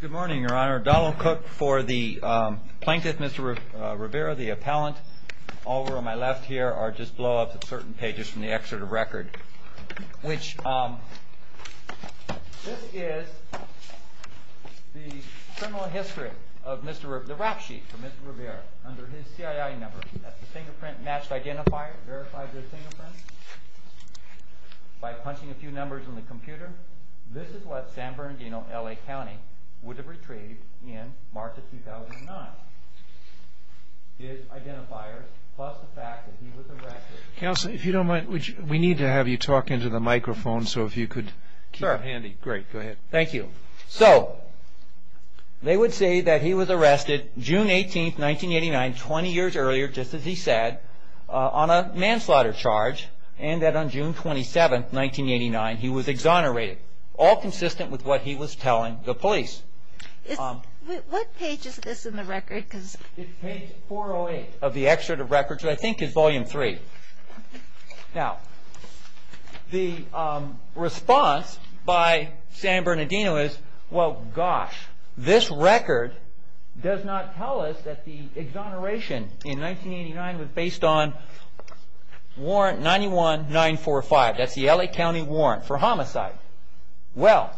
Good morning, your honor. Donald Cook for the plaintiff, Mr. Rivera, the appellant, over on my left here are just blowups at certain pages from the excerpt of record, which this is the criminal history of Mr. Rivera, the rap sheet for Mr. Rivera under his C.I.I. number. That's the fingerprint match identifier, verifies your fingerprint by punching a few numbers on the computer. This is what San Bernardino, L.A. County would have retrieved in March of 2009. His identifiers plus the fact that he was arrested. Counsel, if you don't mind, we need to have you talk into the microphone so if you could keep it handy. Great, go ahead. Thank you. So, they would say that he was arrested June 18, 1989, 20 years earlier, just as he said, on a manslaughter charge and that on June 27, 1989, he was exonerated. All consistent with what he was telling the police. What page is this in the record? It's page 408 of the excerpt of record, which I think is volume 3. Now, the response by San Bernardino is, well gosh, this record does not tell us that the exoneration in 1989 was based on warrant 91945, that's the L.A. County warrant for homicide. Well,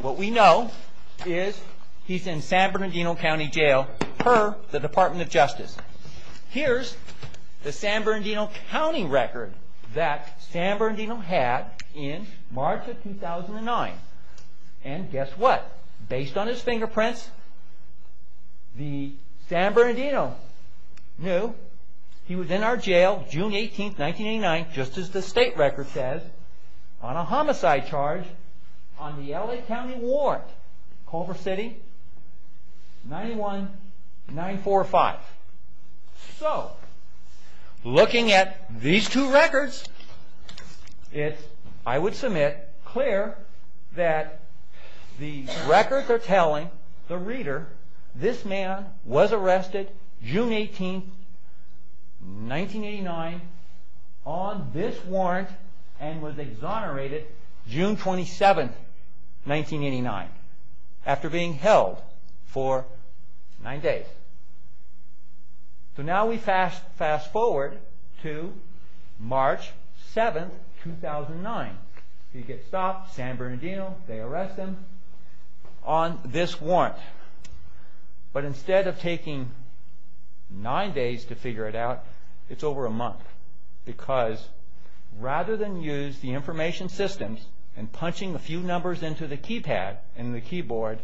what we know is he's in San Bernardino County Jail per the Department of Justice. Here's the San Bernardino County record that San Bernardino had in March of 2009. And guess what? Based on his fingerprints, San Bernardino knew he was in our jail June 18, 1989, just as the state record says, on a homicide charge on the L.A. County warrant, Culver City, 91945. So, looking at these two records, it's, I would submit, clear that the records are telling the reader this man was arrested June 18, 1989, on this warrant and was exonerated June 27, 1989, after being held for nine days. So now we fast forward to March 7, 2009. He gets stopped, San Bernardino, they arrest him on this warrant. But instead of taking nine days to figure it out, it's over a month. Because rather than use the information systems and punching a few numbers into the keypad and the keyboard,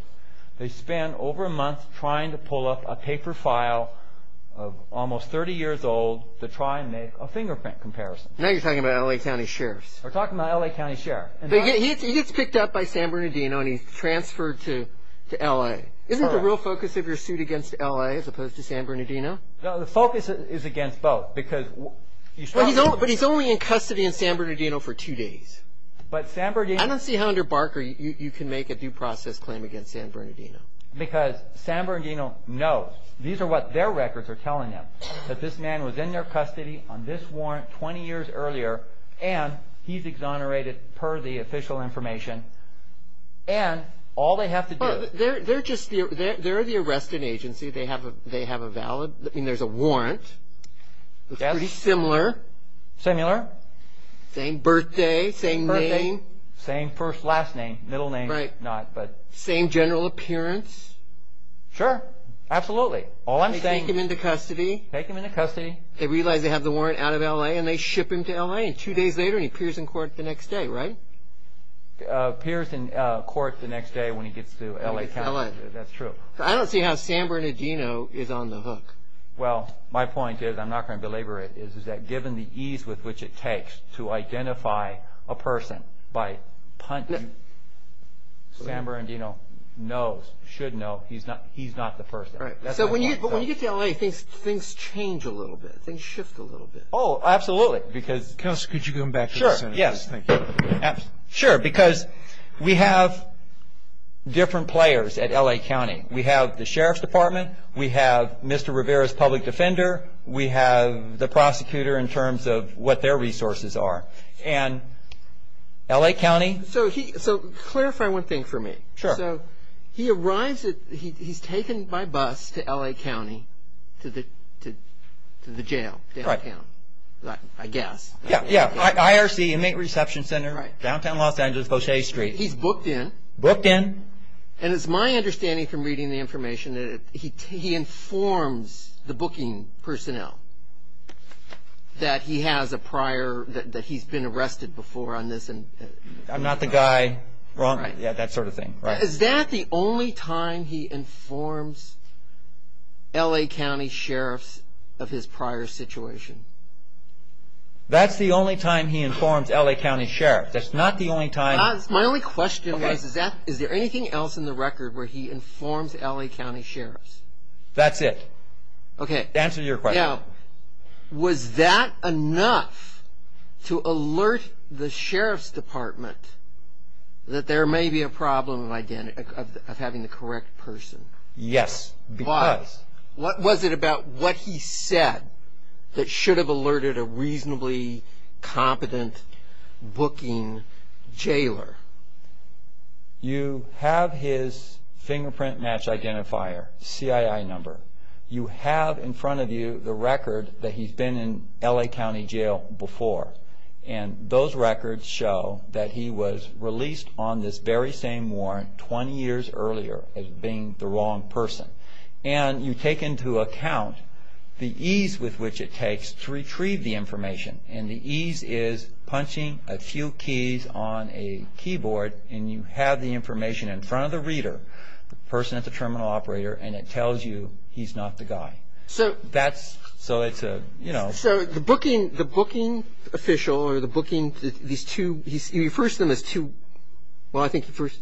they spend over a month trying to pull up a paper file of almost 30 years old to try and make a fingerprint comparison. Now you're talking about L.A. County sheriffs. We're talking about L.A. County sheriff. He gets picked up by San Bernardino and he's transferred to L.A. Isn't the real focus of your suit against L.A. as opposed to San Bernardino? No, the focus is against both. But he's only in custody in San Bernardino for two days. I don't see how under Barker you can make a due process claim against San Bernardino. Because San Bernardino knows, these are what their records are telling them, that this man was in their custody on this warrant 20 years earlier and he's exonerated per the official information. And all they have to do... They're just, they're the arresting agency. They have a valid, I mean there's a warrant. Yes. Pretty similar. Similar. Same birthday, same name. Same first, last name, middle name. Right. Same general appearance. Sure, absolutely. All I'm saying... They take him into custody. Take him into custody. They realize they have the warrant out of L.A. and they ship him to L.A. and two days later he appears in court the next day, right? Appears in court the next day when he gets to L.A. County. When he gets to L.A. That's true. I don't see how San Bernardino is on the hook. Well, my point is, I'm not going to belabor it, is that given the ease with which it takes to identify a person by punch, San Bernardino knows, should know, he's not the person. Right. That's my point. But when you get to L.A. things change a little bit. Things shift a little bit. Oh, absolutely. Counselor, could you go back to the sentence? Yes, thank you. Absolutely. Sure, because we have different players at L.A. County. We have the Sheriff's Department. We have Mr. Rivera's public defender. We have the prosecutor in terms of what their resources are. And L.A. County... So clarify one thing for me. Sure. So he arrives at, he's taken by bus to L.A. County to the jail downtown, I guess. Yeah, IRC, Inmate Reception Center, downtown Los Angeles, Poche Street. He's booked in. Booked in. And it's my understanding from reading the information that he informs the booking personnel that he has a prior, that he's been arrested before on this. I'm not the guy, that sort of thing. Is that the only time he informs L.A. County sheriffs of his prior situation? That's the only time he informs L.A. County sheriffs. That's not the only time... My only question is, is there anything else in the record where he informs L.A. County sheriffs? That's it. Okay. Answer your question. Now, was that enough to alert the Sheriff's Department that there may be a problem of having the correct person? Yes, because... Why? What was it about what he said that should have alerted a reasonably competent booking jailer? You have his fingerprint match identifier, CII number. You have in front of you the record that he's been in L.A. County jail before, and those records show that he was released on this very same warrant 20 years earlier as being the wrong person. And you take into account the ease with which it takes to retrieve the information, and the ease is punching a few keys on a keyboard, and you have the information in front of the reader, the person at the terminal operator, and it tells you he's not the guy. So... That's... So it's a, you know... So the booking official, or the booking, these two... Well, I think the first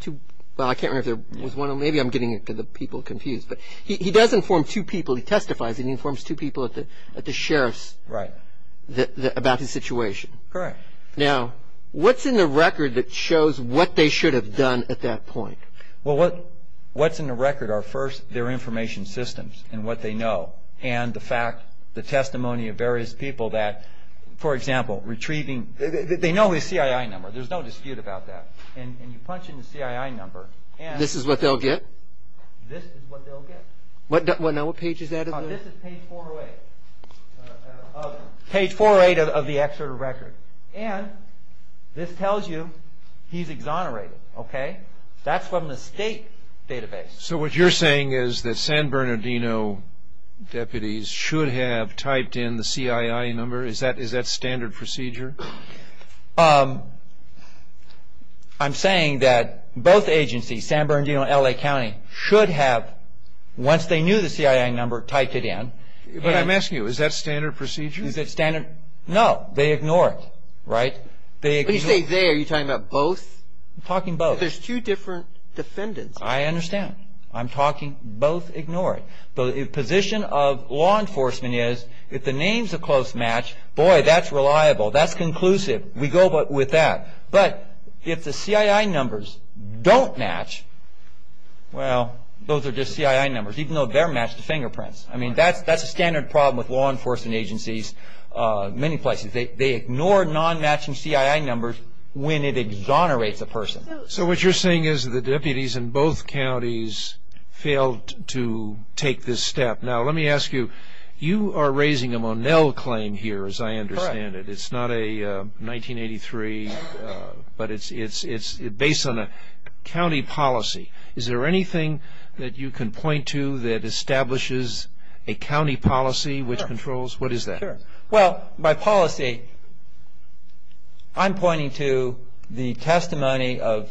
two... Well, I can't remember if there was one. Maybe I'm getting the people confused. But he does inform two people. He testifies, and he informs two people at the sheriff's... Right. ...about his situation. Correct. Now, what's in the record that shows what they should have done at that point? Well, what's in the record are, first, their information systems and what they know, and the fact, the testimony of various people that, for example, retrieving... They know his CII number. There's no dispute about that. And you punch in the CII number, and... This is what they'll get? This is what they'll get. Now, what page is that? This is page 408. Page 408 of the excerpt of record. And this tells you he's exonerated, okay? That's from the state database. So what you're saying is that San Bernardino deputies should have typed in the CII number? Is that standard procedure? I'm saying that both agencies, San Bernardino and L.A. County, should have, once they knew the CII number, typed it in. But I'm asking you, is that standard procedure? Is it standard? No. They ignore it, right? When you say they, are you talking about both? I'm talking both. But there's two different defendants. I understand. I'm talking both ignore it. The position of law enforcement is, if the names are close match, boy, that's reliable. That's conclusive. We go with that. But if the CII numbers don't match, well, those are just CII numbers, even though they're matched to fingerprints. I mean, that's a standard problem with law enforcement agencies in many places. They ignore non-matching CII numbers when it exonerates a person. So what you're saying is the deputies in both counties failed to take this step. Now, let me ask you, you are raising a Monell claim here, as I understand it. Correct. It's not a 1983, but it's based on a county policy. Is there anything that you can point to that establishes a county policy which controls? What is that? Well, by policy, I'm pointing to the testimony of,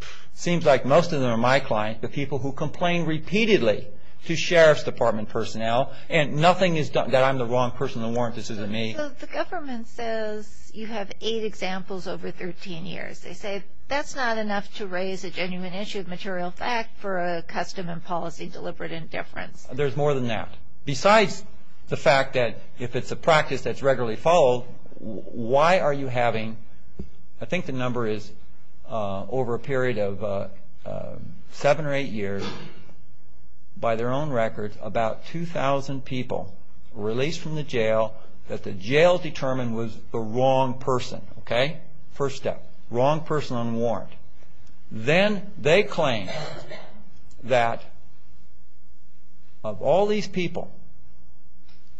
it seems like most of them are my clients, the people who complain repeatedly to Sheriff's Department personnel, and nothing is done that I'm the wrong person to warrant this isn't me. The government says you have eight examples over 13 years. They say that's not enough to raise a genuine issue of material fact for a custom and policy deliberate indifference. There's more than that. Besides the fact that if it's a practice that's regularly followed, why are you having, I think the number is over a period of seven or eight years, by their own record, about 2,000 people released from the jail that the jail determined was the wrong person. First step, wrong person on warrant. Then they claim that of all these people,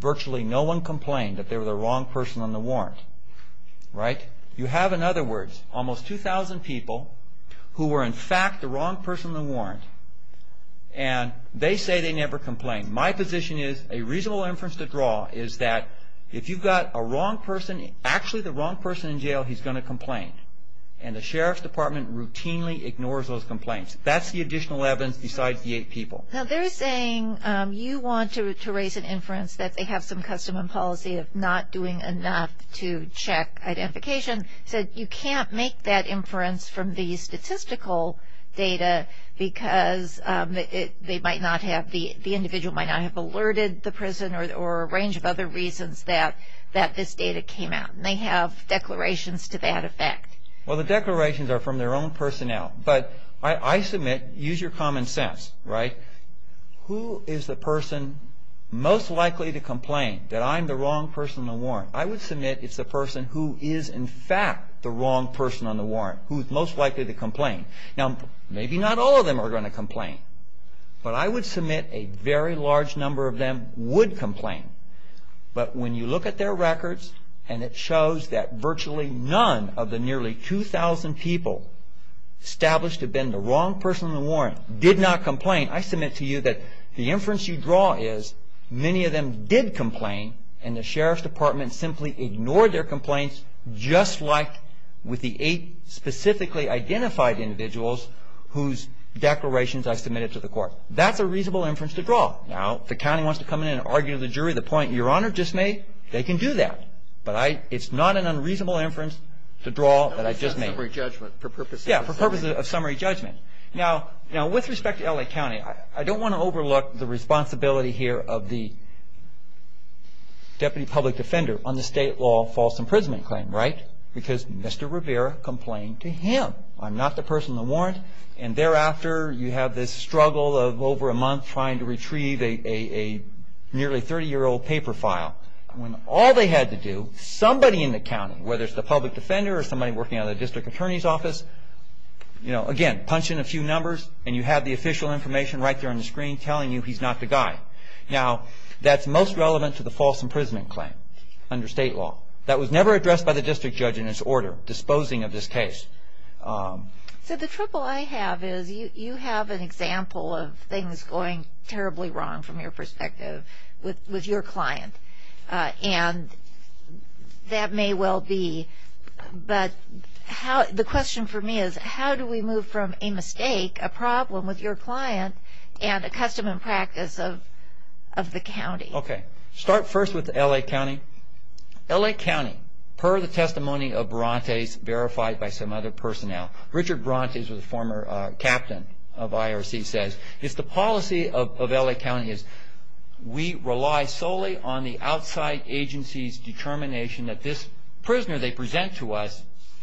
virtually no one complained that they were the wrong person on the warrant. You have, in other words, almost 2,000 people who were in fact the wrong person on the warrant, and they say they never complained. My position is a reasonable inference to draw is that if you've got a wrong person, actually the wrong person in jail, he's going to complain. And the sheriff's department routinely ignores those complaints. That's the additional evidence besides the eight people. Now they're saying you want to raise an inference that they have some custom and policy of not doing enough to check identification. So you can't make that inference from the statistical data because they might not have, the individual might not have alerted the prison or a range of other reasons that this data came out. They have declarations to that effect. Well, the declarations are from their own personnel. But I submit, use your common sense, right? Who is the person most likely to complain that I'm the wrong person on the warrant? I would submit it's the person who is in fact the wrong person on the warrant, who is most likely to complain. Now maybe not all of them are going to complain, but I would submit a very large number of them would complain. But when you look at their records and it shows that virtually none of the nearly 2,000 people established to have been the wrong person on the warrant did not complain, I submit to you that the inference you draw is many of them did complain and the sheriff's department simply ignored their complaints just like with the eight specifically identified individuals whose declarations I submitted to the court. That's a reasonable inference to draw. Now if the county wants to come in and argue to the jury the point your Honor just made, they can do that. But it's not an unreasonable inference to draw that I just made. For purposes of summary judgment. Yeah, for purposes of summary judgment. Now with respect to L.A. County, I don't want to overlook the responsibility here of the deputy public defender on the state law false imprisonment claim, right? Because Mr. Rivera complained to him. I'm not the person on the warrant. And thereafter you have this struggle of over a month trying to retrieve a nearly 30-year-old paper file when all they had to do, somebody in the county, whether it's the public defender or somebody working out of the district attorney's office, again, punch in a few numbers and you have the official information right there on the screen telling you he's not the guy. Now that's most relevant to the false imprisonment claim under state law. That was never addressed by the district judge in his order disposing of this case. So the trouble I have is you have an example of things going terribly wrong from your perspective with your client. And that may well be. But the question for me is how do we move from a mistake, a problem with your client, and a custom and practice of the county? Okay. Start first with L.A. County. L.A. County, per the testimony of Brontes verified by some other personnel, Richard Brontes was a former captain of IRC, says, it's the policy of L.A. County is we rely solely on the outside agency's determination that this prisoner they present to us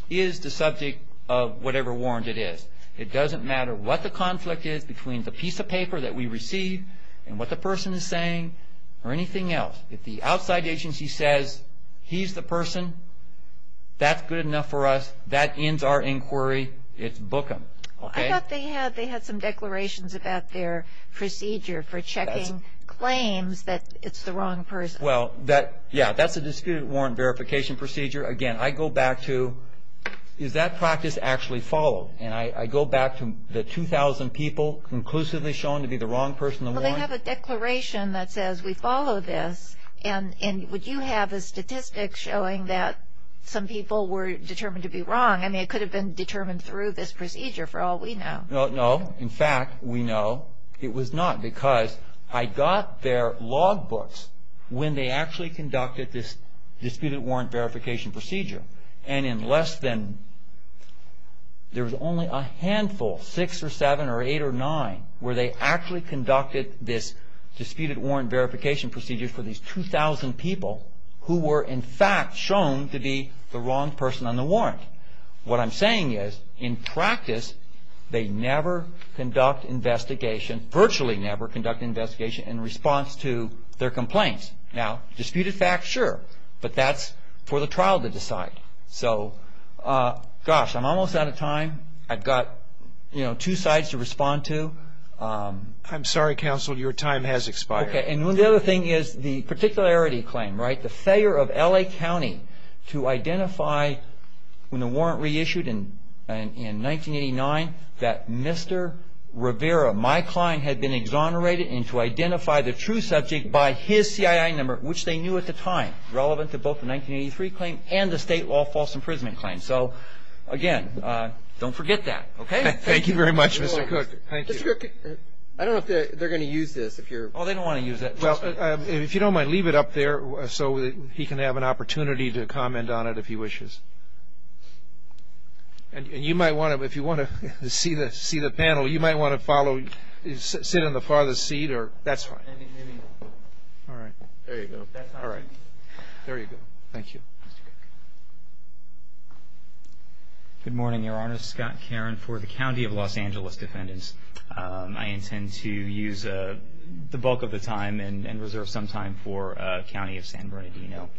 is the subject of whatever warrant it is. It doesn't matter what the conflict is between the piece of paper that we receive and what the person is saying or anything else. If the outside agency says he's the person, that's good enough for us. That ends our inquiry. It's book them. I thought they had some declarations about their procedure for checking claims that it's the wrong person. Well, yeah, that's a disputed warrant verification procedure. Again, I go back to is that practice actually followed? And I go back to the 2,000 people conclusively shown to be the wrong person to warrant. Well, they have a declaration that says we follow this, and would you have a statistic showing that some people were determined to be wrong? I mean, it could have been determined through this procedure for all we know. No. In fact, we know it was not because I got their log books when they actually conducted this disputed warrant verification procedure, and in less than there was only a handful, six or seven or eight or nine, where they actually conducted this disputed warrant verification procedure for these 2,000 people who were in fact shown to be the wrong person on the warrant. What I'm saying is, in practice, they never conduct investigation, virtually never conduct investigation in response to their complaints. Now, disputed facts, sure, but that's for the trial to decide. So, gosh, I'm almost out of time. I've got, you know, two sides to respond to. I'm sorry, counsel. Your time has expired. Okay. And the other thing is the particularity claim, right, the failure of L.A. County to identify when the warrant reissued in 1989 that Mr. Rivera, my client, had been exonerated and to identify the true subject by his CII number, which they knew at the time relevant to both the 1983 claim and the state law false imprisonment claim. So, again, don't forget that. Okay? Thank you very much, Mr. Cook. Thank you. Mr. Cook, I don't know if they're going to use this. Oh, they don't want to use it. Well, if you don't mind, leave it up there so he can have an opportunity to comment on it if he wishes. And you might want to, if you want to see the panel, you might want to follow, sit in the farthest seat or that's fine. All right. There you go. All right. There you go. Thank you. Thank you. Good morning, Your Honor. Scott Caron for the County of Los Angeles Defendants. I intend to use the bulk of the time and reserve some time for County of San Bernardino.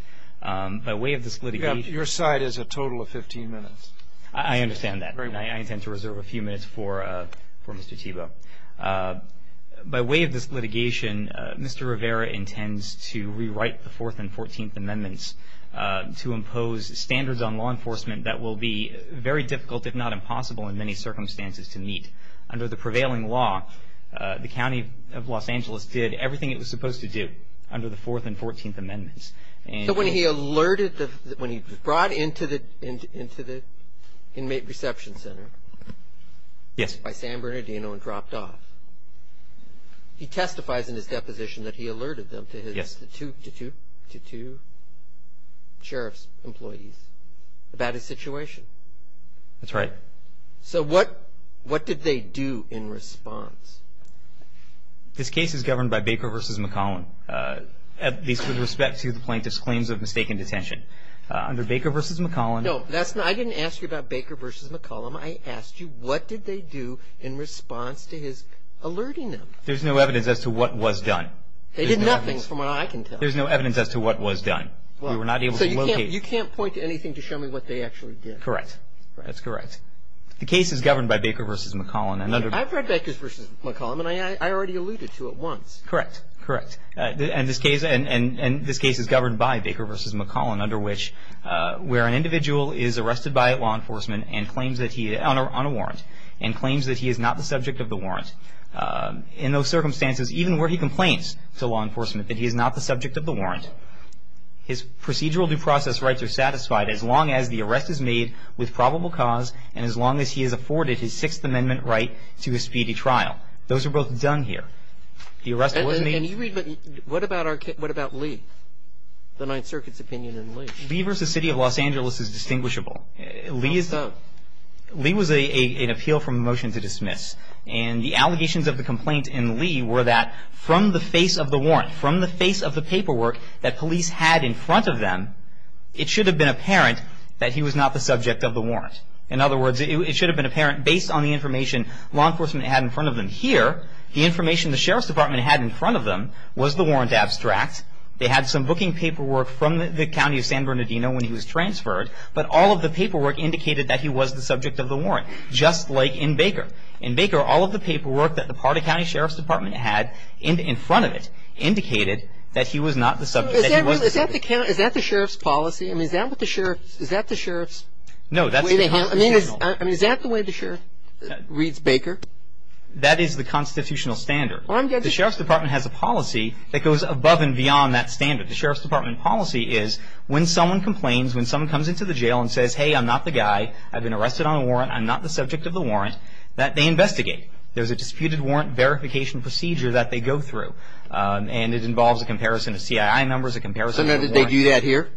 By way of this litigation. Your side is a total of 15 minutes. I understand that. I intend to reserve a few minutes for Mr. Thiebaud. By way of this litigation, Mr. Rivera intends to rewrite the 4th and 14th Amendments to impose standards on law enforcement that will be very difficult, if not impossible in many circumstances to meet. Under the prevailing law, the County of Los Angeles did everything it was supposed to do under the 4th and 14th Amendments. So when he alerted, when he brought into the Inmate Reception Center. Yes. The inmates by San Bernardino and dropped off. He testifies in his deposition that he alerted them to his. Yes. To two sheriff's employees about his situation. That's right. So what did they do in response? This case is governed by Baker v. McCollum, at least with respect to the plaintiff's claims of mistaken detention. Under Baker v. McCollum. No, I didn't ask you about Baker v. McCollum. I asked you what did they do in response to his alerting them. There's no evidence as to what was done. They did nothing from what I can tell. There's no evidence as to what was done. We were not able to locate. So you can't point to anything to show me what they actually did. Correct. That's correct. The case is governed by Baker v. McCollum. I've read Baker v. McCollum, and I already alluded to it once. Correct. Correct. And this case is governed by Baker v. McCollum, where an individual is arrested by law enforcement on a warrant and claims that he is not the subject of the warrant. In those circumstances, even where he complains to law enforcement that he is not the subject of the warrant, his procedural due process rights are satisfied as long as the arrest is made with probable cause and as long as he has afforded his Sixth Amendment right to a speedy trial. Those are both done here. What about Lee, the Ninth Circuit's opinion on Lee? Lee v. City of Los Angeles is distinguishable. Lee was an appeal from a motion to dismiss, and the allegations of the complaint in Lee were that from the face of the warrant, from the face of the paperwork that police had in front of them, it should have been apparent that he was not the subject of the warrant. In other words, it should have been apparent, based on the information law enforcement had in front of them here, the information the Sheriff's Department had in front of them was the warrant abstract. They had some booking paperwork from the County of San Bernardino when he was transferred, but all of the paperwork indicated that he was the subject of the warrant, just like in Baker. In Baker, all of the paperwork that the Pardee County Sheriff's Department had in front of it indicated that he was not the subject, that he was the subject. Is that the Sheriff's policy? I mean, is that the Sheriff's way they handle it? I mean, is that the way the Sheriff reads Baker? That is the constitutional standard. The Sheriff's Department has a policy that goes above and beyond that standard. The Sheriff's Department policy is when someone complains, when someone comes into the jail and says, hey, I'm not the guy, I've been arrested on a warrant, I'm not the subject of the warrant, that they investigate. There's a disputed warrant verification procedure that they go through, and it involves a comparison of CII numbers, a comparison of the warrant. So did they do that here?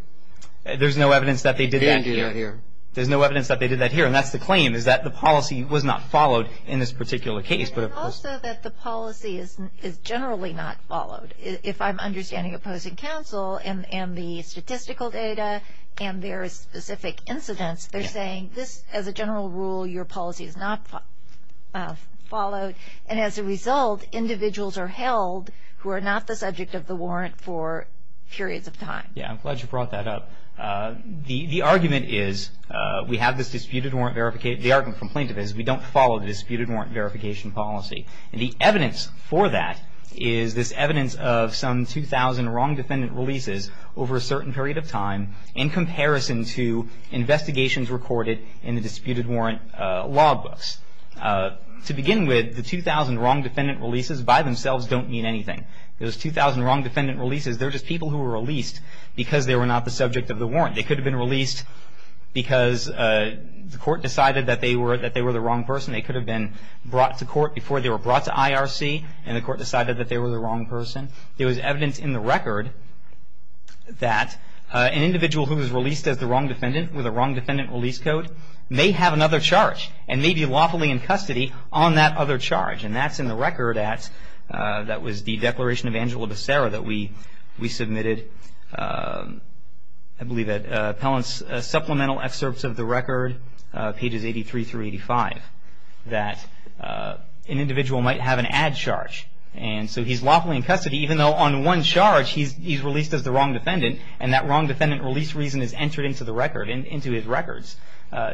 There's no evidence that they did that here. They didn't do that here. There's no evidence that they did that here, and that's the claim is that the policy was not followed in this particular case. And also that the policy is generally not followed. If I'm understanding opposing counsel and the statistical data and their specific incidents, they're saying this, as a general rule, your policy is not followed, and as a result, individuals are held who are not the subject of the warrant for periods of time. Yeah, I'm glad you brought that up. The argument is we have this disputed warrant verification, the argument from plaintiff is we don't follow the disputed warrant verification policy. And the evidence for that is this evidence of some 2,000 wrong defendant releases over a certain period of time in comparison to investigations recorded in the disputed warrant law books. To begin with, the 2,000 wrong defendant releases by themselves don't mean anything. Those 2,000 wrong defendant releases, they're just people who were released because they were not the subject of the warrant. They could have been released because the court decided that they were the wrong person. They could have been brought to court before they were brought to IRC, and the court decided that they were the wrong person. There was evidence in the record that an individual who was released as the wrong defendant with a wrong defendant release code may have another charge and may be lawfully in custody on that other charge. And that's in the record that was the Declaration of Angelo de Sara that we submitted I believe at Appellant's Supplemental Excerpts of the Record, pages 83 through 85, that an individual might have an add charge. And so he's lawfully in custody even though on one charge he's released as the wrong defendant and that wrong defendant release reason is entered into the record, into his records.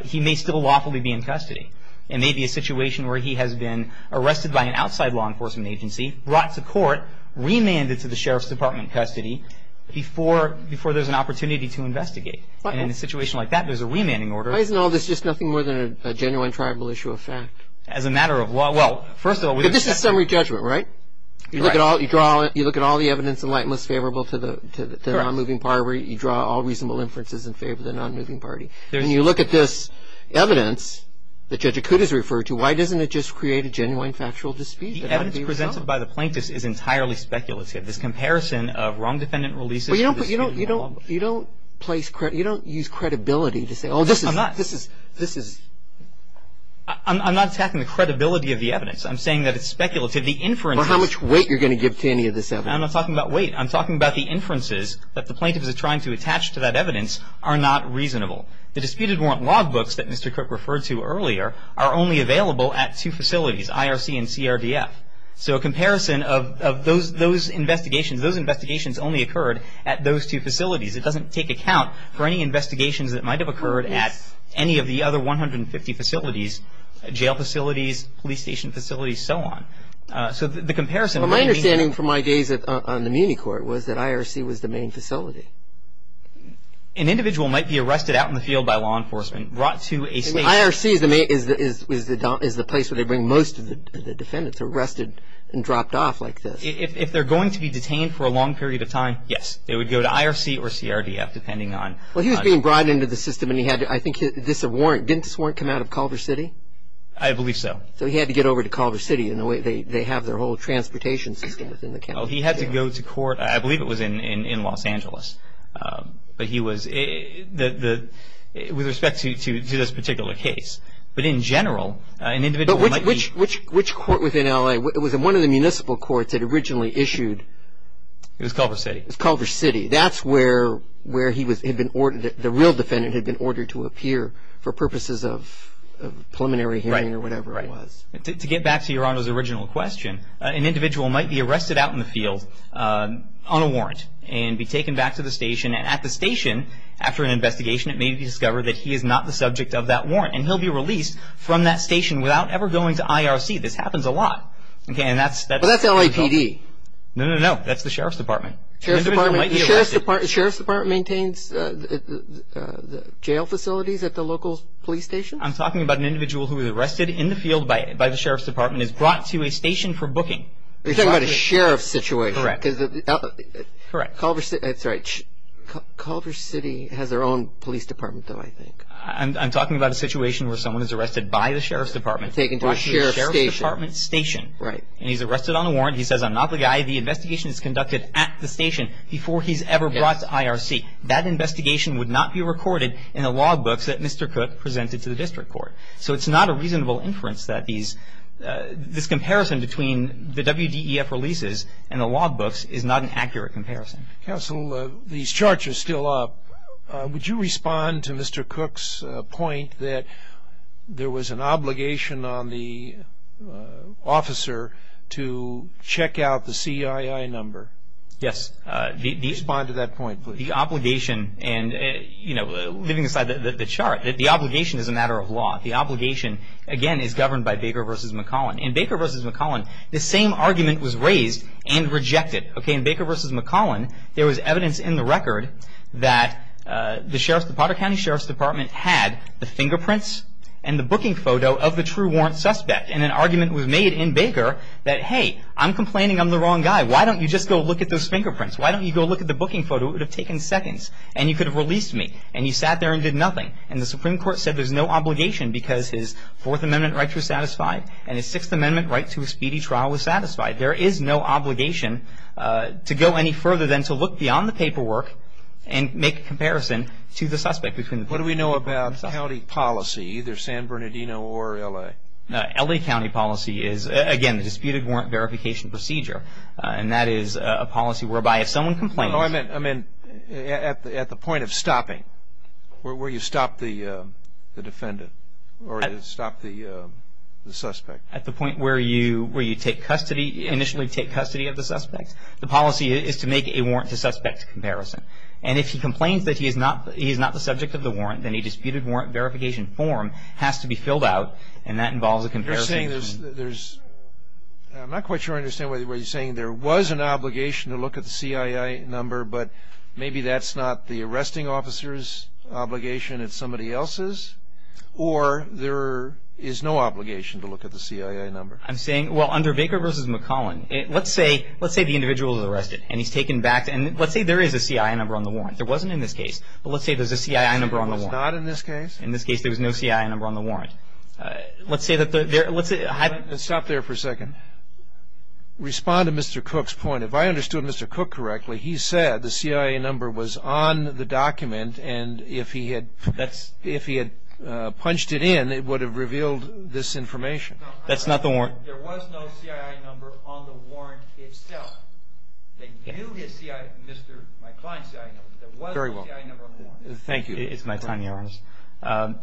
He may still lawfully be in custody. It may be a situation where he has been arrested by an outside law enforcement agency, brought to court, remanded to the Sheriff's Department custody before there's an opportunity to investigate. In a situation like that, there's a remanding order. Why isn't all this just nothing more than a genuine tribal issue of fact? As a matter of law, well, first of all, But this is summary judgment, right? You look at all the evidence in light and what's favorable to the non-moving party. You draw all reasonable inferences in favor of the non-moving party. When you look at this evidence that Judge Akuta has referred to, why doesn't it just create a genuine factual dispute? The evidence presented by the plaintiff is entirely speculative. This comparison of wrong defendant releases. But you don't place credibility. You don't use credibility to say, oh, this is, this is, this is. I'm not attacking the credibility of the evidence. I'm saying that it's speculative. The inferences. How much weight you're going to give to any of this evidence. I'm not talking about weight. I'm talking about the inferences that the plaintiff is trying to attach to that evidence The disputed warrant log books that Mr. Cook referred to earlier are only available at two facilities, IRC and CRDF. So a comparison of those, those investigations, those investigations only occurred at those two facilities. It doesn't take account for any investigations that might have occurred at any of the other 150 facilities, jail facilities, police station facilities, so on. So the comparison. My understanding from my days on the Muni court was that IRC was the main facility. An individual might be arrested out in the field by law enforcement, brought to a state. IRC is the place where they bring most of the defendants arrested and dropped off like this. If they're going to be detained for a long period of time, yes. They would go to IRC or CRDF depending on. Well, he was being brought into the system and he had, I think, this warrant. Didn't this warrant come out of Culver City? I believe so. So he had to get over to Culver City and they have their whole transportation system within the county jail. Well, he had to go to court. I believe it was in Los Angeles. But he was, with respect to this particular case. But in general, an individual might be. But which court within L.A.? Was it one of the municipal courts that originally issued? It was Culver City. It was Culver City. That's where he had been ordered, the real defendant had been ordered to appear for purposes of preliminary hearing or whatever it was. To get back to Your Honor's original question, an individual might be arrested out in the field on a warrant and be taken back to the station. And at the station, after an investigation, it may be discovered that he is not the subject of that warrant. And he'll be released from that station without ever going to IRC. This happens a lot. That's LAPD. No, no, no. That's the Sheriff's Department. Sheriff's Department maintains jail facilities at the local police station? I'm talking about an individual who is arrested in the field by the Sheriff's Department and is brought to a station for booking. You're talking about a sheriff's situation? Correct. Correct. Culver City has their own police department, though, I think. I'm talking about a situation where someone is arrested by the Sheriff's Department and brought to a Sheriff's Department station. Right. And he's arrested on a warrant. He says, I'm not the guy. The investigation is conducted at the station before he's ever brought to IRC. That investigation would not be recorded in the log books that Mr. Cook presented to the district court. So it's not a reasonable inference that this comparison between the WDEF releases and the log books is not an accurate comparison. Counsel, these charts are still up. Would you respond to Mr. Cook's point that there was an obligation on the officer to check out the CII number? Yes. Respond to that point, please. The obligation, and leaving aside the chart, the obligation is a matter of law. The obligation, again, is governed by Baker v. McCollin. In Baker v. McCollin, the same argument was raised and rejected. In Baker v. McCollin, there was evidence in the record that the Potter County Sheriff's Department had the fingerprints and the booking photo of the true warrant suspect. And an argument was made in Baker that, hey, I'm complaining I'm the wrong guy. Why don't you just go look at those fingerprints? Why don't you go look at the booking photo? It would have taken seconds. And you could have released me. And you sat there and did nothing. And the Supreme Court said there's no obligation because his Fourth Amendment rights were satisfied and his Sixth Amendment right to a speedy trial was satisfied. There is no obligation to go any further than to look beyond the paperwork and make a comparison to the suspect. What do we know about county policy, either San Bernardino or L.A.? L.A. county policy is, again, the disputed warrant verification procedure. And that is a policy whereby if someone complains. Oh, I meant at the point of stopping, where you stop the defendant or stop the suspect. At the point where you initially take custody of the suspect. The policy is to make a warrant to suspect comparison. And if he complains that he is not the subject of the warrant, then a disputed warrant verification form has to be filled out, and that involves a comparison. I'm not quite sure I understand what you're saying. There was an obligation to look at the CII number, but maybe that's not the arresting officer's obligation, it's somebody else's. Or there is no obligation to look at the CII number. I'm saying, well, under Baker v. McClellan, let's say the individual is arrested and he's taken back. And let's say there is a CII number on the warrant. There wasn't in this case. But let's say there's a CII number on the warrant. There was not in this case. In this case, there was no CII number on the warrant. Let's stop there for a second. Respond to Mr. Cook's point. If I understood Mr. Cook correctly, he said the CII number was on the document, and if he had punched it in, it would have revealed this information. That's not the warrant. There was no CII number on the warrant itself. They knew my client's CII number, but there was no CII number on the warrant. Thank you. It's my time, Your Honor.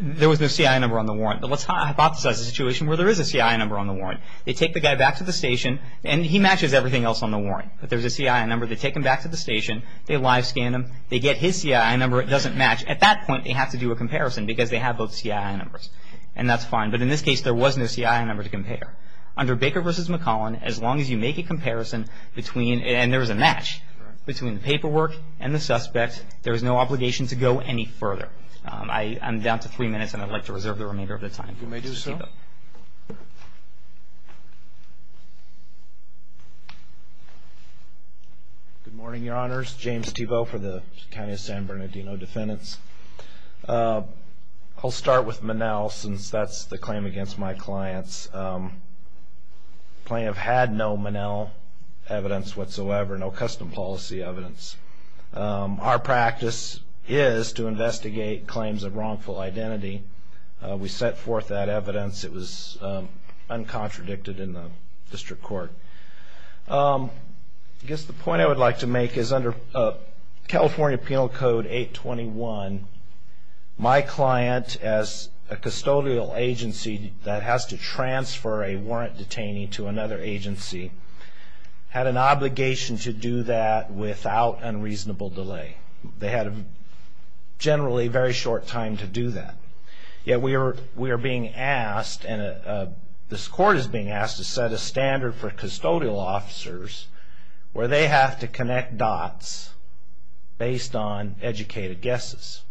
There was no CII number on the warrant. But let's hypothesize a situation where there is a CII number on the warrant. They take the guy back to the station, and he matches everything else on the warrant. But there's a CII number. They take him back to the station. They live scan him. They get his CII number. It doesn't match. At that point, they have to do a comparison because they have both CII numbers. And that's fine. But in this case, there was no CII number to compare. Under Baker v. McClellan, as long as you make a comparison between, and there was a match, between the paperwork and the suspect, there is no obligation to go any further. I'm down to three minutes, and I'd like to reserve the remainder of the time. You may do so. Good morning, Your Honors. James Thibault for the County of San Bernardino Defendants. I'll start with Monell, since that's the claim against my clients. The plaintiff had no Monell evidence whatsoever, no custom policy evidence. Our practice is to investigate claims of wrongful identity. We set forth that evidence. It was uncontradicted in the district court. I guess the point I would like to make is, under California Penal Code 821, my client, as a custodial agency that has to transfer a warrant detainee to another agency, had an obligation to do that without unreasonable delay. They had, generally, a very short time to do that. Yet we are being asked, and this court is being asked, to set a standard for custodial officers where they have to connect dots based on educated guesses.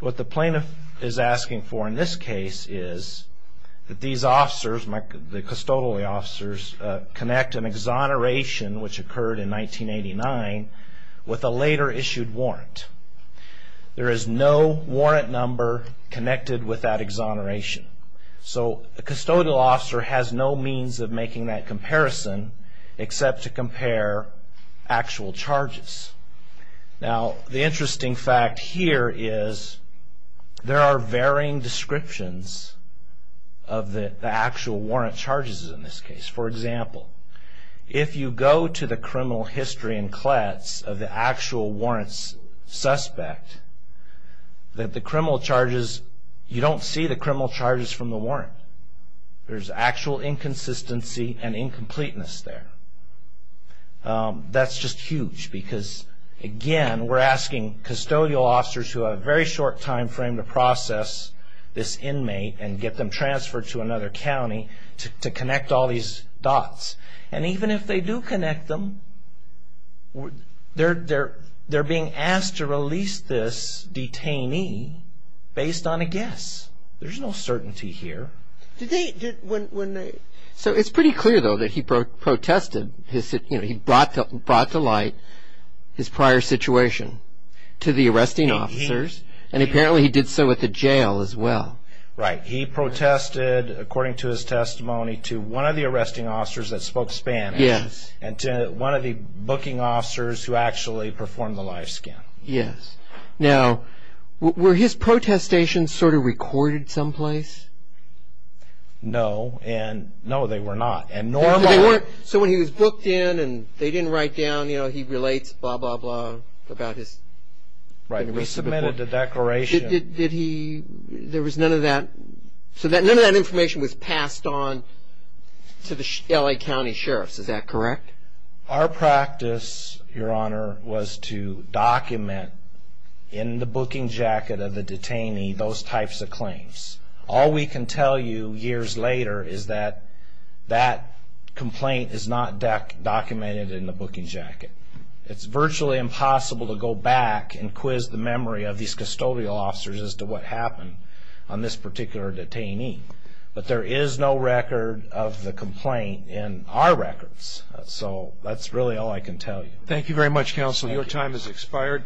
What the plaintiff is asking for in this case is that these officers, the custodial officers, connect an exoneration, which occurred in 1989, with a later issued warrant. There is no warrant number connected with that exoneration. A custodial officer has no means of making that comparison except to compare actual charges. The interesting fact here is there are varying descriptions of the actual warrant charges in this case. For example, if you go to the criminal history and clets of the actual warrants suspect, you don't see the criminal charges from the warrant. There's actual inconsistency and incompleteness there. That's just huge because, again, we're asking custodial officers who have a very short time frame to process this inmate and get them transferred to another county to connect all these dots. Even if they do connect them, they're being asked to release this detainee based on a guess. There's no certainty here. It's pretty clear, though, that he brought to light his prior situation to the arresting officers, and apparently he did so at the jail as well. He protested, according to his testimony, to one of the arresting officers that spoke Spanish and to one of the booking officers who actually performed the live scan. Were his protestations recorded someplace? No, they were not. So when he was booked in and they didn't write down, you know, he relates, blah, blah, blah, about his... Right, we submitted the declaration. So none of that information was passed on to the L.A. County sheriffs, is that correct? Our practice, Your Honor, was to document in the booking jacket of the detainee those types of claims. All we can tell you years later is that that complaint is not documented in the booking jacket. It's virtually impossible to go back and quiz the memory of these custodial officers as to what happened on this particular detainee. But there is no record of the complaint in our records. So that's really all I can tell you. Thank you very much, Counsel. Your time has expired.